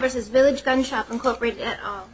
versus Village Gun Shop Incorporated et al.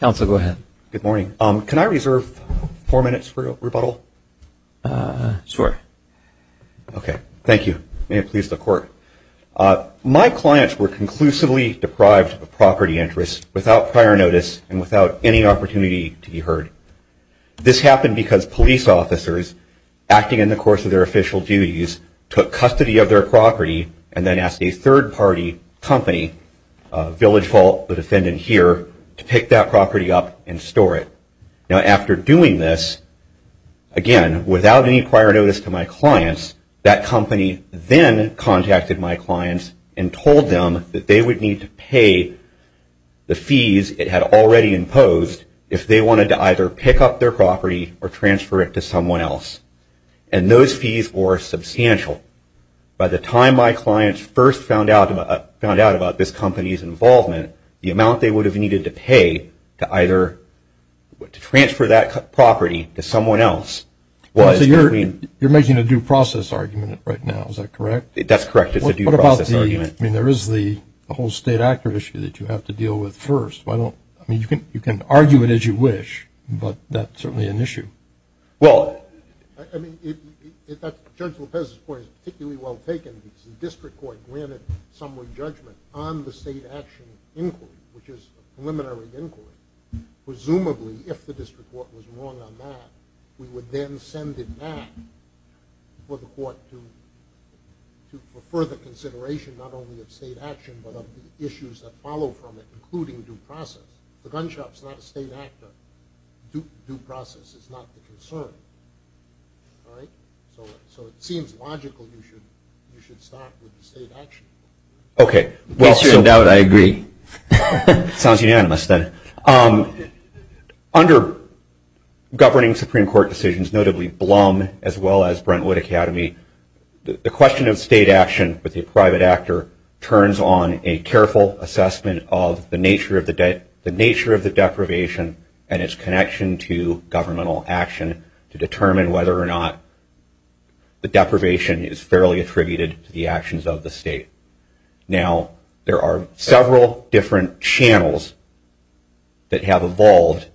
Council, go ahead. Good morning. Can I reserve four minutes for rebuttal? Sure. Okay, thank you. May it please the court. My clients were conclusively deprived of property interests without prior notice and without any opportunity to be heard. This happened because police officers, acting in the course of their official duties, took custody of their property and then asked a third party company, Village Vault, the defendant here, to pick that property up and store it. Now, after doing this, again, without any prior notice to my clients, that company then contacted my clients and told them that they would need to pay the fees it had already imposed if they wanted to either pick up their property or transfer it to someone else. And those fees were substantial. By the time my clients first found out about this company's involvement, the amount they would have needed to pay to either transfer that property to someone else was... You're making a due process argument right now. Is that correct? That's correct. It's a due process argument. What about the... I mean, there is the whole state actor issue that you have to deal with first. I mean, you can argue it as you wish, but that's certainly an issue. Well, I mean, Judge Lopez's point is particularly well taken because the district court granted summary judgment on the state action inquiry, which is a preliminary inquiry. Presumably, if the district court was wrong on that, we would then send it back for the court to... for further consideration, not only of state action, but of the issues that follow from it, including due process. The gun shop's not a state actor. Due process is not the concern. So it seems logical you should start with the state action inquiry. Okay. Well, no doubt I agree. Sounds unanimous then. Under governing Supreme Court decisions, notably Blum as well as Brentwood Academy, the question of state action with the private actor turns on a careful assessment of the nature of the deprivation and its connection to governmental action to determine whether or not the deprivation is fairly attributed to the actions of the state. Now, there are several different channels that have evolved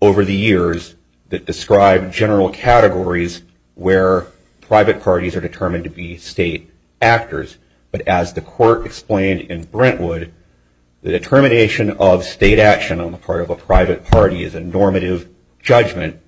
over the years that describe general categories where private parties are determined to be state actors. But as the court explained in Brentwood, the determination of state action on the part of a private party is a normative judgment,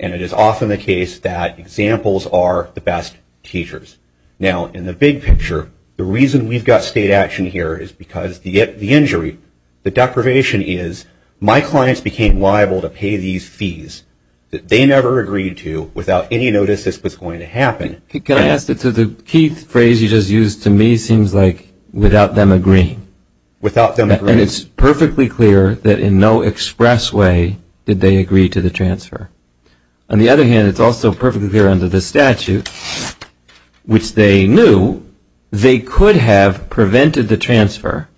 and it is often the case that examples are the best teachers. Now, in the big picture, the reason we've got state action here is because the injury, the deprivation is, my clients became liable to pay these fees that they never agreed to without any notice this was going to happen. Can I ask that the key phrase you just used to me seems like without them agreeing. And it's perfectly clear that in no express way did they agree to the transfer. On the other hand, it's also perfectly clear under the statute which they knew they could have prevented the transfer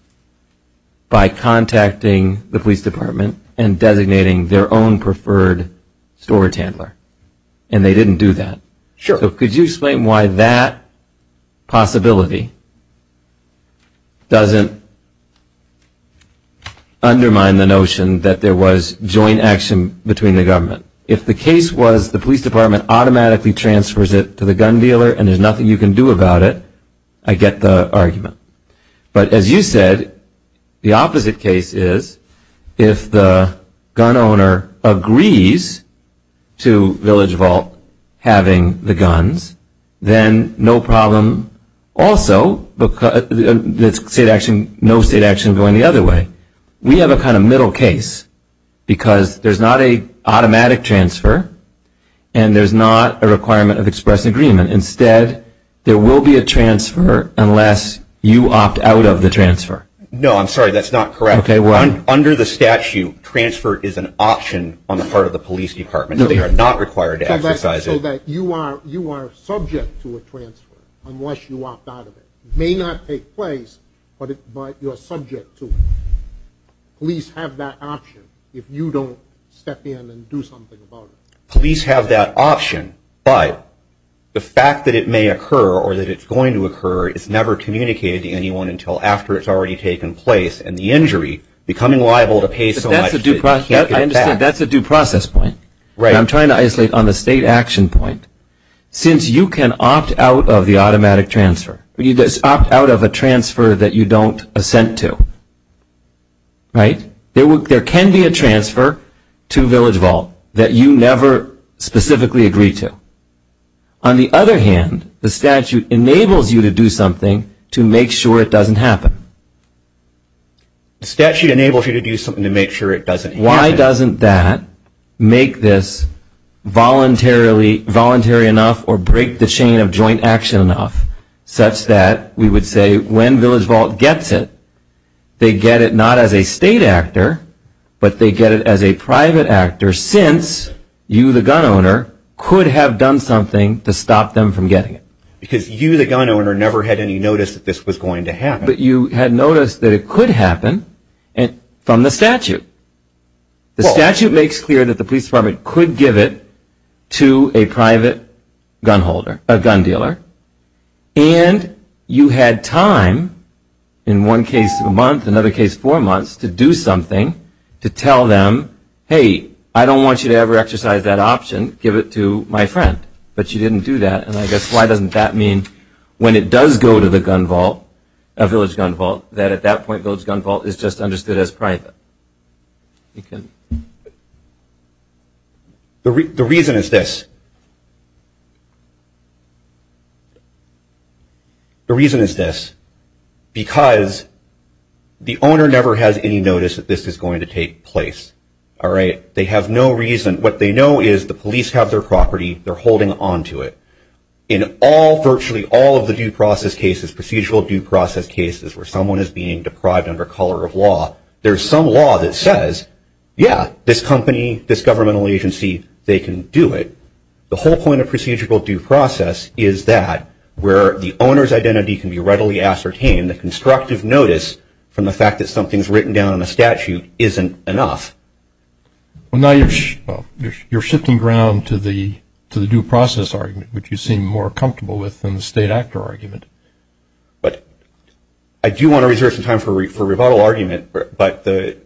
by contacting the police department and designating their own preferred storage handler. And they didn't do that. So could you explain why that possibility doesn't undermine the notion that there was joint action between the government? If the case was the police department automatically transfers it to the gun dealer and there's nothing you can do about it, I get the argument. But as you said, the opposite case is if the gun owner agrees to Village Vault having the guns, then no problem. Also, no state action going the other way. We have a kind of middle case because there's not an automatic transfer and there's not a requirement of express agreement. Instead, there will be a transfer unless you opt out of the transfer. No, I'm sorry, that's not correct. Under the statute, transfer is an option on the part of the police department. They are not required to exercise it. So you are subject to a transfer unless you opt out of it. It may not take place, but you're subject to it. Police have that option if you don't step in and do something about it. Police have that option, but the fact that it may occur or that it's going to occur is never communicated to anyone until after it's already taken place and the injury becoming liable to pay so much. That's a due process point. I'm trying to isolate on the state action point. Since you can opt out of the automatic transfer, you just opt out of a transfer that you don't assent to. There can be a transfer to Village Vault that you never specifically agree to. On the other hand, the statute enables you to do something to make sure it doesn't happen. The statute enables you to do something to make sure it doesn't happen. Why doesn't that make this voluntary enough or break the chain of joint action enough such that we would say when Village Vault gets it, they get it not as a state actor, but they get it as a private actor since you, the gun owner, could have done something to stop them from getting it. Because you, the gun owner, never had any notice that this was going to happen. But you had noticed that it could happen from the statute. The statute makes clear that the police department could give it to a private gun dealer and you had time in one case a month, another case four months to do something to tell them, hey, I don't want you to ever exercise that option. I didn't give it to my friend, but she didn't do that. And I guess why doesn't that mean when it does go to the gun vault, a Village Gun Vault, that at that point Village Gun Vault is just understood as private. The reason is this. The reason is this. Because the owner never has any notice that this is going to take place. They have no reason. What they know is the police have their property. They're holding onto it. In virtually all of the procedural due process cases where someone is being deprived under color of law, there's some law that says, yeah, this company, this governmental agency, they can do it. The whole point of procedural due process is that where the owner's identity can be readily ascertained, a constructive notice from the fact that something's written down in a statute isn't enough. Well, now you're shifting ground to the due process argument, which you seem more comfortable with than the state actor argument. But I do want to reserve some time for rebuttal argument, but the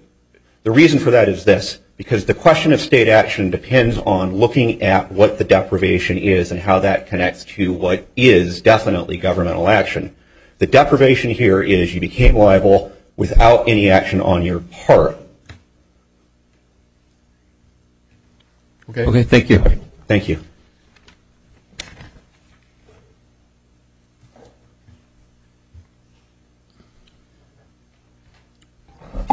reason for that is this. Because the question of state action depends on looking at what the deprivation is and how that connects to what is definitely governmental action. The deprivation here is you became liable without any action on your part. Okay, thank you. Thank you.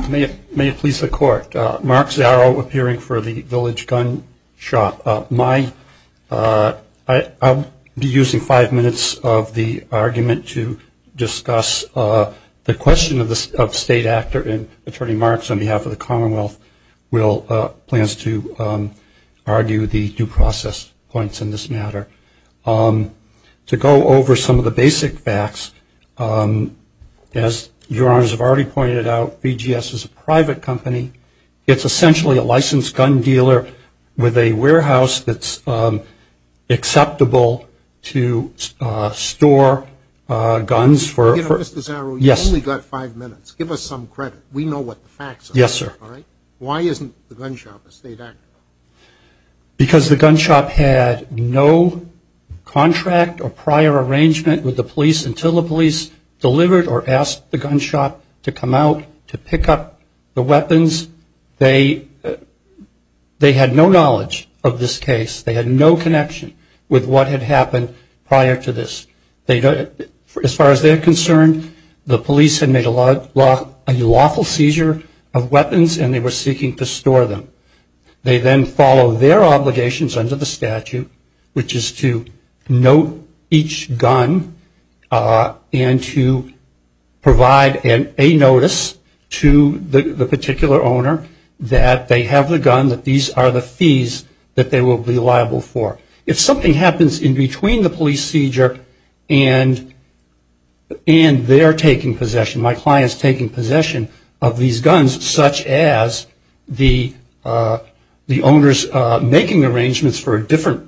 May it please the Court. Mark Zaro, appearing for the Village Gun Shop. I'll be using five minutes of the argument to discuss the question of state actor. And Attorney Marks, on behalf of the Commonwealth, plans to argue the due process points in this matter. To go over some of the basic facts, as Your Honors have already pointed out, BGS is a private company. It's essentially a licensed gun dealer with a warehouse that's acceptable to store guns for... You know, Mr. Zaro, you've only got five minutes. Give us some credit. We know what the facts are. Yes, sir. Why isn't the gun shop a state actor? Because the gun shop had no contract or prior arrangement with the police until the police delivered or asked the gun shop to come out to pick up the weapons. They had no knowledge of this case. They had no connection with what had happened prior to this. As far as they're concerned, the police had made a lawful seizure of weapons, and they were seeking to store them. They then follow their obligations under the statute, which is to note each gun and to provide a notice to the particular owner that they have the gun, that these are the fees that they will be liable for. If something happens in between the police seizure and their taking possession, my client's taking possession of these guns, such as the owner's making arrangements for a different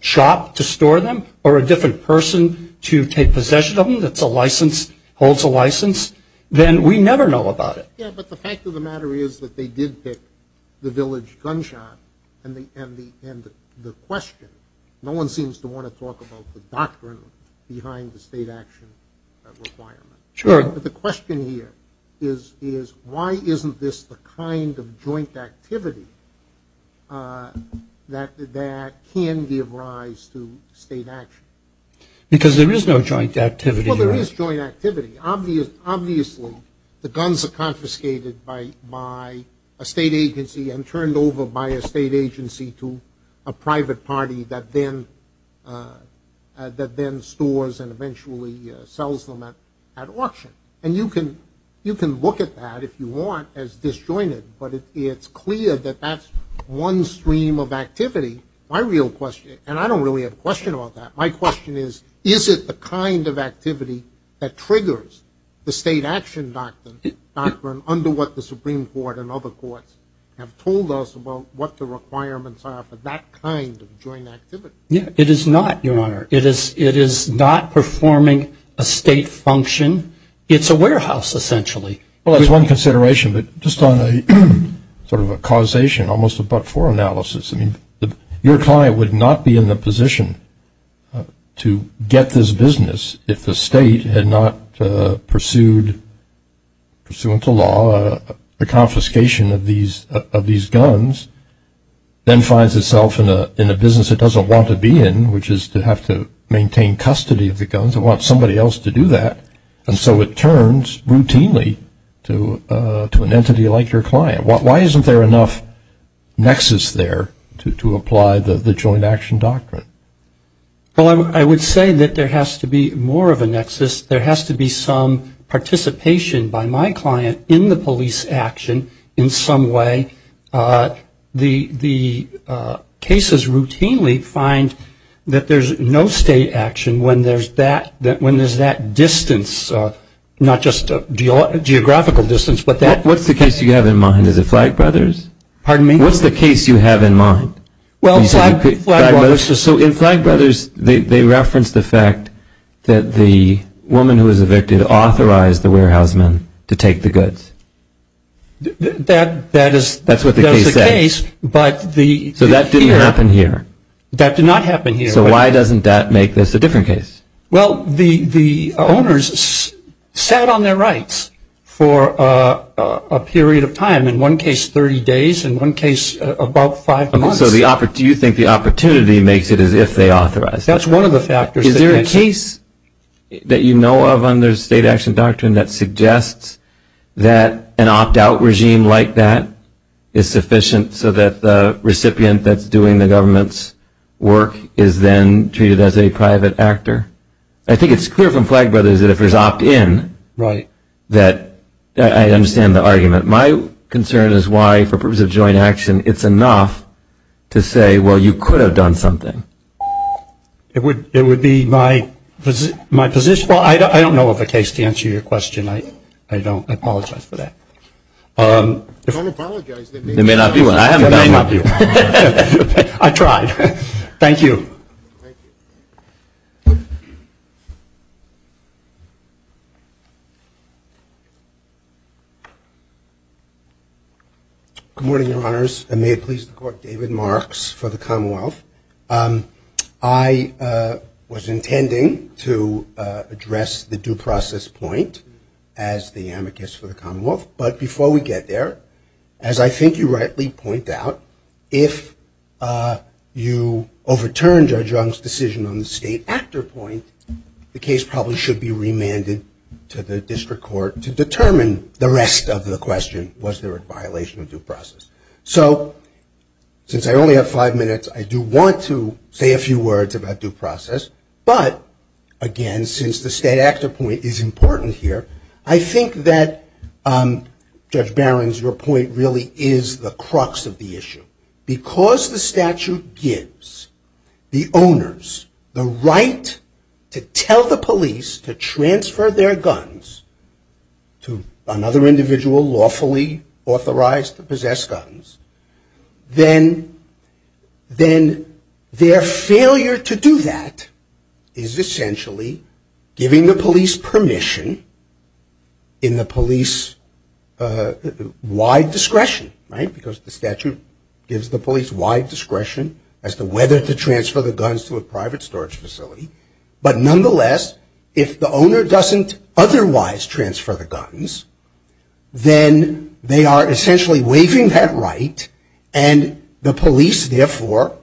shop to store them or a different person to take possession of them that's a license, holds a license, then we never know about it. Yeah, but the fact of the matter is that they did pick the village gun shop, and the question, no one seems to want to talk about the doctrine behind the state action requirement. Sure. But the question here is why isn't this the kind of joint activity that can give rise to state action? Because there is no joint activity. Well, there is joint activity. Obviously the guns are confiscated by a state agency and turned over by a state agency to a private party that then stores and eventually sells them at auction. And you can look at that if you want as disjointed, but it's clear that that's one stream of activity. My real question, and I don't really have a question about that, my question is is it the kind of activity that triggers the state action doctrine under what the Supreme Court and other courts have told us about what the requirements are for that kind of joint activity? Yeah, it is not, Your Honor. It is not performing a state function. It's a warehouse essentially. Well, that's one consideration, but just on a sort of a causation almost a but-for analysis, I mean your client would not be in the position to get this business if the state had not pursued, pursuant to law, the confiscation of these guns, then finds itself in a business it doesn't want to be in, which is to have to maintain custody of the guns. It wants somebody else to do that. And so it turns routinely to an entity like your client. Why isn't there enough nexus there to apply the joint action doctrine? Well, I would say that there has to be more of a nexus. There has to be some participation by my client in the police action in some way. The cases routinely find that there's no state action when there's that distance, not just a geographical distance. What's the case you have in mind? Is it Flagg Brothers? Pardon me? What's the case you have in mind? Well, Flagg Brothers. So in Flagg Brothers they reference the fact that the woman who was evicted authorized the warehouse man to take the goods. That is the case. That's what the case says. So that didn't happen here. That did not happen here. So why doesn't that make this a different case? Well, the owners sat on their rights for a period of time, in one case 30 days, in one case about five months. So you think the opportunity makes it as if they authorized it? That's one of the factors. Is there a case that you know of under state action doctrine that suggests that an opt-out regime like that is sufficient so that the recipient that's doing the government's work is then treated as a private actor? I think it's clear from Flagg Brothers that if there's opt-in that I understand the argument. My concern is why, for purposes of joint action, it's enough to say, well, you could have done something. It would be my position. Well, I don't know of a case to answer your question. I apologize for that. Don't apologize. There may not be one. There may not be one. I tried. Thank you. Good morning, Your Honors, and may it please the Court, David Marks for the Commonwealth. I was intending to address the due process point as the amicus for the Commonwealth. But before we get there, as I think you rightly point out, if you overturn Judge Young's decision on the state actor point, the case probably should be remanded to the district court to determine the rest of the question, was there a violation of due process. So since I only have five minutes, I do want to say a few words about due process. But, again, since the state actor point is important here, I think that, Judge Barron, your point really is the crux of the issue. Because the statute gives the owners the right to tell the police to transfer their guns to another individual lawfully authorized to possess guns, then their failure to do that is essentially giving the police permission in the police-wide discretion, right? Because the statute gives the police wide discretion as to whether to transfer the guns to a private storage facility. But, nonetheless, if the owner doesn't otherwise transfer the guns, then they are essentially waiving that right, and the police, therefore,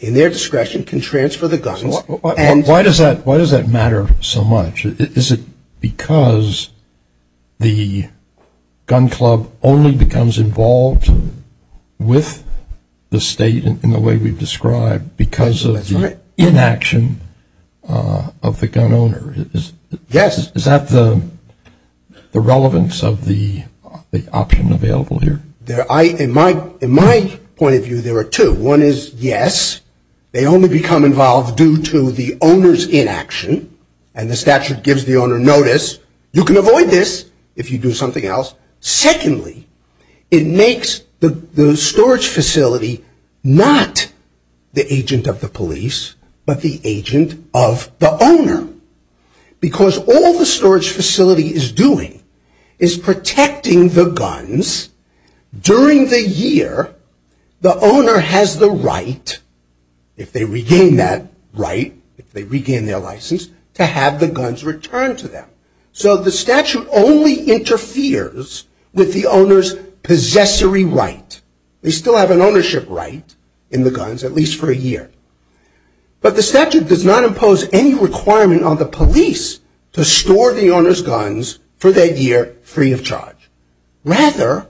in their discretion, can transfer the guns. Why does that matter so much? Is it because the gun club only becomes involved with the state in the way we've described because of the inaction of the gun owner? Yes. Is that the relevance of the option available here? In my point of view, there are two. One is, yes, they only become involved due to the owner's inaction, and the statute gives the owner notice. You can avoid this if you do something else. Secondly, it makes the storage facility not the agent of the police, but the agent of the owner. Because all the storage facility is doing is protecting the guns during the year. The owner has the right, if they regain that right, if they regain their license, to have the guns returned to them. So the statute only interferes with the owner's possessory right. They still have an ownership right in the guns, at least for a year. But the statute does not impose any requirement on the police to store the owner's guns for that year free of charge. Rather,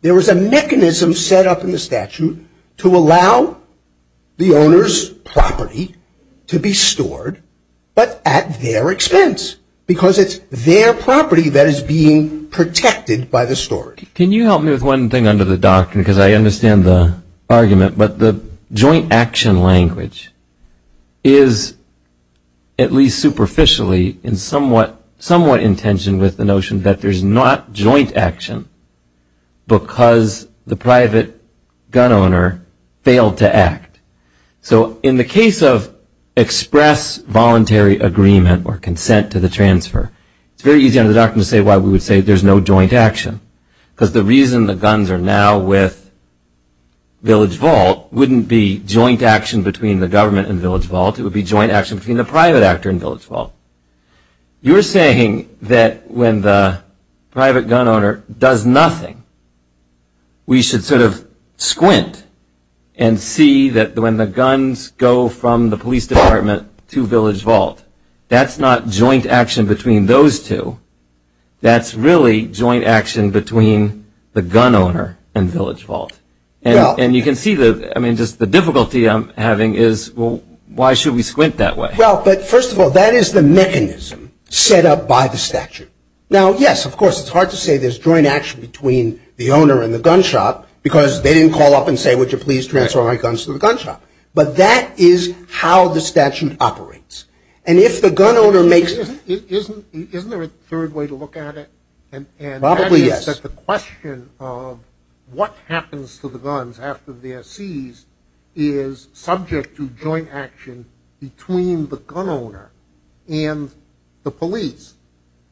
there is a mechanism set up in the statute to allow the owner's property to be stored, but at their expense, because it's their property that is being protected by the storage. Can you help me with one thing under the doctrine, because I understand the argument, but the joint action language is, at least superficially, somewhat in tension with the notion that there's not joint action because the private gun owner failed to act. So in the case of express voluntary agreement or consent to the transfer, it's very easy under the doctrine to say why we would say there's no joint action. Because the reason the guns are now with Village Vault wouldn't be joint action between the government and Village Vault, it would be joint action between the private actor and Village Vault. You're saying that when the private gun owner does nothing, we should sort of squint and see that when the guns go from the police department to Village Vault, that's not joint action between those two. That's really joint action between the gun owner and Village Vault. And you can see, I mean, just the difficulty I'm having is, well, why should we squint that way? Well, but first of all, that is the mechanism set up by the statute. Now, yes, of course, it's hard to say there's joint action between the owner and the gun shop, because they didn't call up and say, would you please transfer my guns to the gun shop. But that is how the statute operates. And if the gun owner makes it — Isn't there a third way to look at it? Probably yes. And that is that the question of what happens to the guns after they're seized is subject to joint action between the gun owner and the police.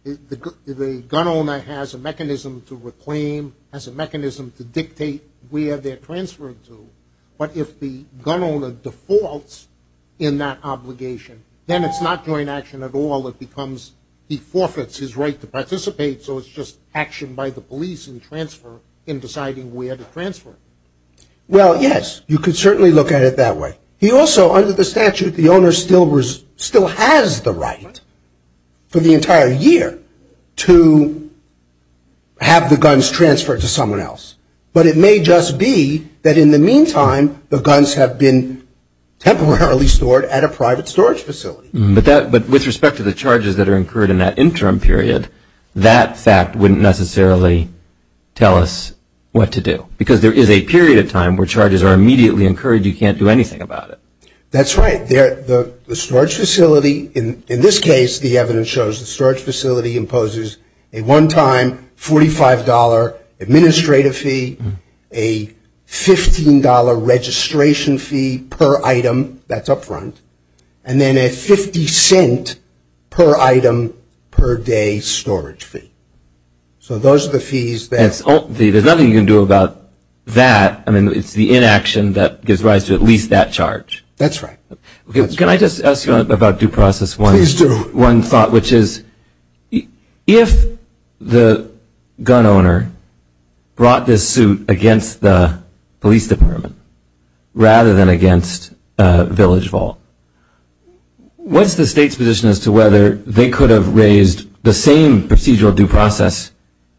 The gun owner has a mechanism to reclaim, has a mechanism to dictate where they're transferred to. But if the gun owner defaults in that obligation, then it's not joint action at all. It becomes he forfeits his right to participate, so it's just action by the police and transfer in deciding where to transfer. Well, yes, you could certainly look at it that way. But he also, under the statute, the owner still has the right for the entire year to have the guns transferred to someone else. But it may just be that in the meantime, the guns have been temporarily stored at a private storage facility. But with respect to the charges that are incurred in that interim period, that fact wouldn't necessarily tell us what to do, because there is a period of time where charges are immediately incurred. You can't do anything about it. That's right. The storage facility, in this case, the evidence shows the storage facility imposes a one-time $45 administrative fee, a $15 registration fee per item that's up front, and then a 50 cent per item per day storage fee. So those are the fees. There's nothing you can do about that. I mean, it's the inaction that gives rise to at least that charge. That's right. Can I just ask you about due process one? Please do. One thought, which is if the gun owner brought this suit against the police department rather than against Village Vault, what's the state's position as to whether they could have raised the same procedural due process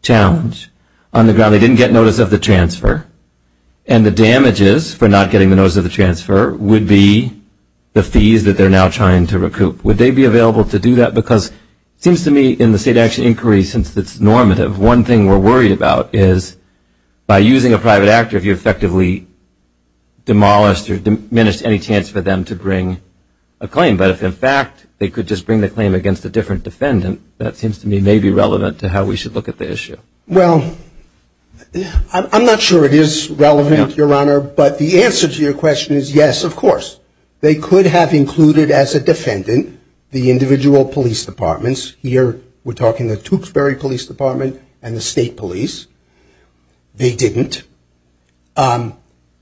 challenge on the ground? They didn't get notice of the transfer. And the damages for not getting the notice of the transfer would be the fees that they're now trying to recoup. Would they be available to do that? Because it seems to me in the state action inquiry, since it's normative, one thing we're worried about is by using a private actor, if you effectively demolished or diminished any chance for them to bring a claim. But if, in fact, they could just bring the claim against a different defendant, that seems to me maybe relevant to how we should look at the issue. Well, I'm not sure it is relevant, Your Honor, but the answer to your question is yes, of course. They could have included as a defendant the individual police departments. Here we're talking the Tewksbury Police Department and the State Police. They didn't. And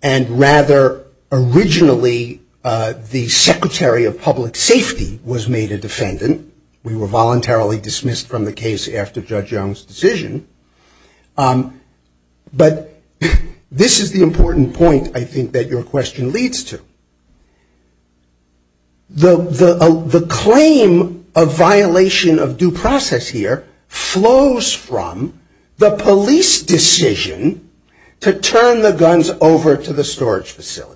rather, originally, the Secretary of Public Safety was made a defendant. We were voluntarily dismissed from the case after Judge Young's decision. But this is the important point, I think, that your question leads to. The claim of violation of due process here flows from the police decision to turn the guns over to the storage facility.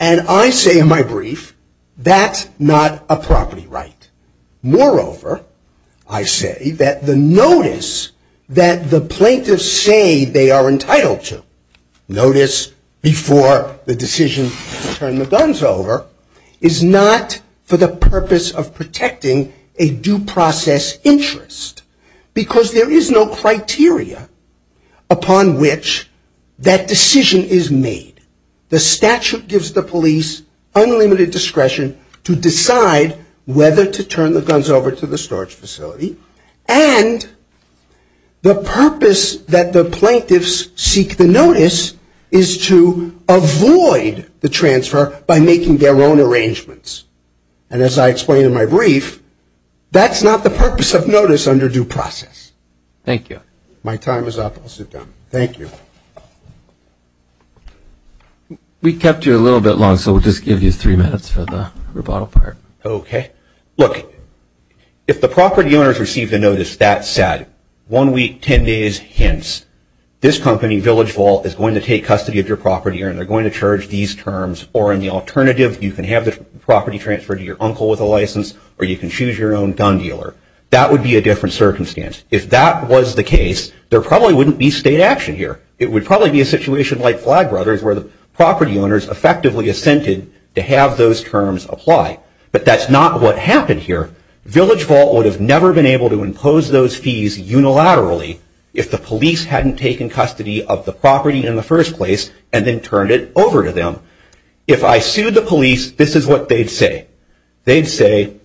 And I say in my brief, that's not a property right. Moreover, I say that the notice that the plaintiffs say they are entitled to, notice before the decision to turn the guns over, is not for the purpose of protecting a due process interest. Because there is no criteria upon which that decision is made. The statute gives the police unlimited discretion to decide whether to turn the guns over to the storage facility. And the purpose that the plaintiffs seek the notice is to avoid the transfer by making their own arrangements. And as I explain in my brief, that's not the purpose of notice under due process. Thank you. My time is up. I'll sit down. Thank you. We kept you a little bit long, so we'll just give you three minutes for the rebuttal part. Okay. Look, if the property owners received a notice that said, one week, ten days, hence, this company, Village Vault, is going to take custody of your property, and they're going to charge these terms. Or in the alternative, you can have the property transferred to your uncle with a license, or you can choose your own gun dealer. That would be a different circumstance. If that was the case, there probably wouldn't be state action here. It would probably be a situation like Flag Brothers, where the property owners effectively assented to have those terms apply. But that's not what happened here. Village Vault would have never been able to impose those fees unilaterally if the police hadn't taken custody of the property in the first place and then turned it over to them. If I sued the police, this is what they'd say. They'd say,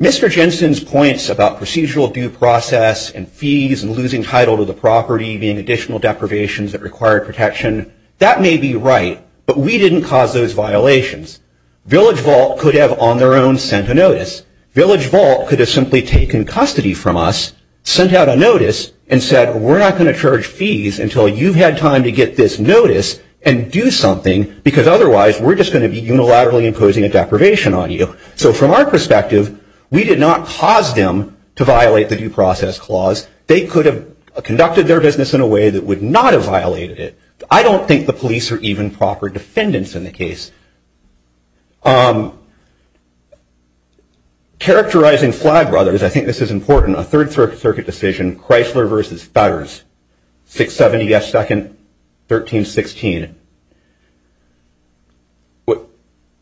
Mr. Jensen's points about procedural due process and fees and losing title to the property, being additional deprivations that require protection, that may be right, but we didn't cause those violations. Village Vault could have on their own sent a notice. Village Vault could have simply taken custody from us, sent out a notice, and said we're not going to charge fees until you've had time to get this notice and do something because otherwise we're just going to be unilaterally imposing a deprivation on you. So from our perspective, we did not cause them to violate the due process clause. They could have conducted their business in a way that would not have violated it. I don't think the police are even proper defendants in the case. Characterizing Flagbrothers, I think this is important, a Third Circuit decision, Chrysler v. Fetters, 670 S. 2nd, 1316.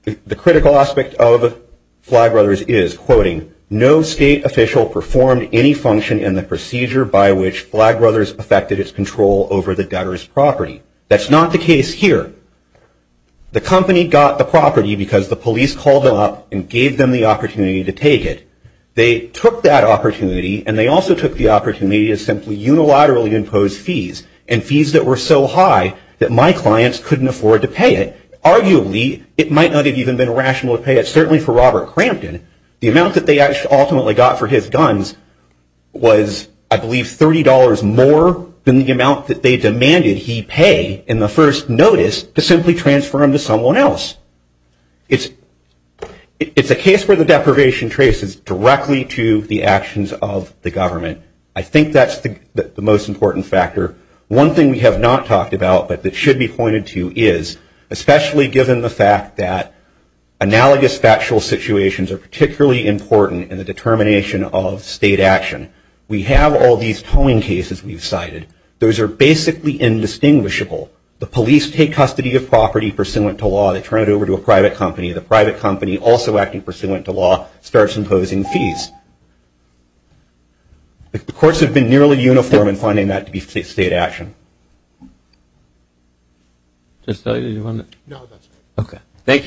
The critical aspect of Flagbrothers is, quoting, no state official performed any function in the procedure by which Flagbrothers affected its control over the gutter's property. That's not the case here. The company got the property because the police called them up and gave them the opportunity to take it. They took that opportunity, and they also took the opportunity to simply unilaterally impose fees, and fees that were so high that my clients couldn't afford to pay it. Arguably, it might not have even been rational to pay it, certainly for Robert Crampton. The amount that they ultimately got for his guns was, I believe, $30 more than the amount that they demanded he pay in the first notice to simply transfer him to someone else. It's a case where the deprivation traces directly to the actions of the government. I think that's the most important factor. One thing we have not talked about, but that should be pointed to, is, especially given the fact that analogous factual situations are particularly important in the determination of state action. We have all these towing cases we've cited. Those are basically indistinguishable. The police take custody of property pursuant to law. They turn it over to a private company. The private company, also acting pursuant to law, starts imposing fees. The courts have been nearly uniform in finding that to be state action. Thank you.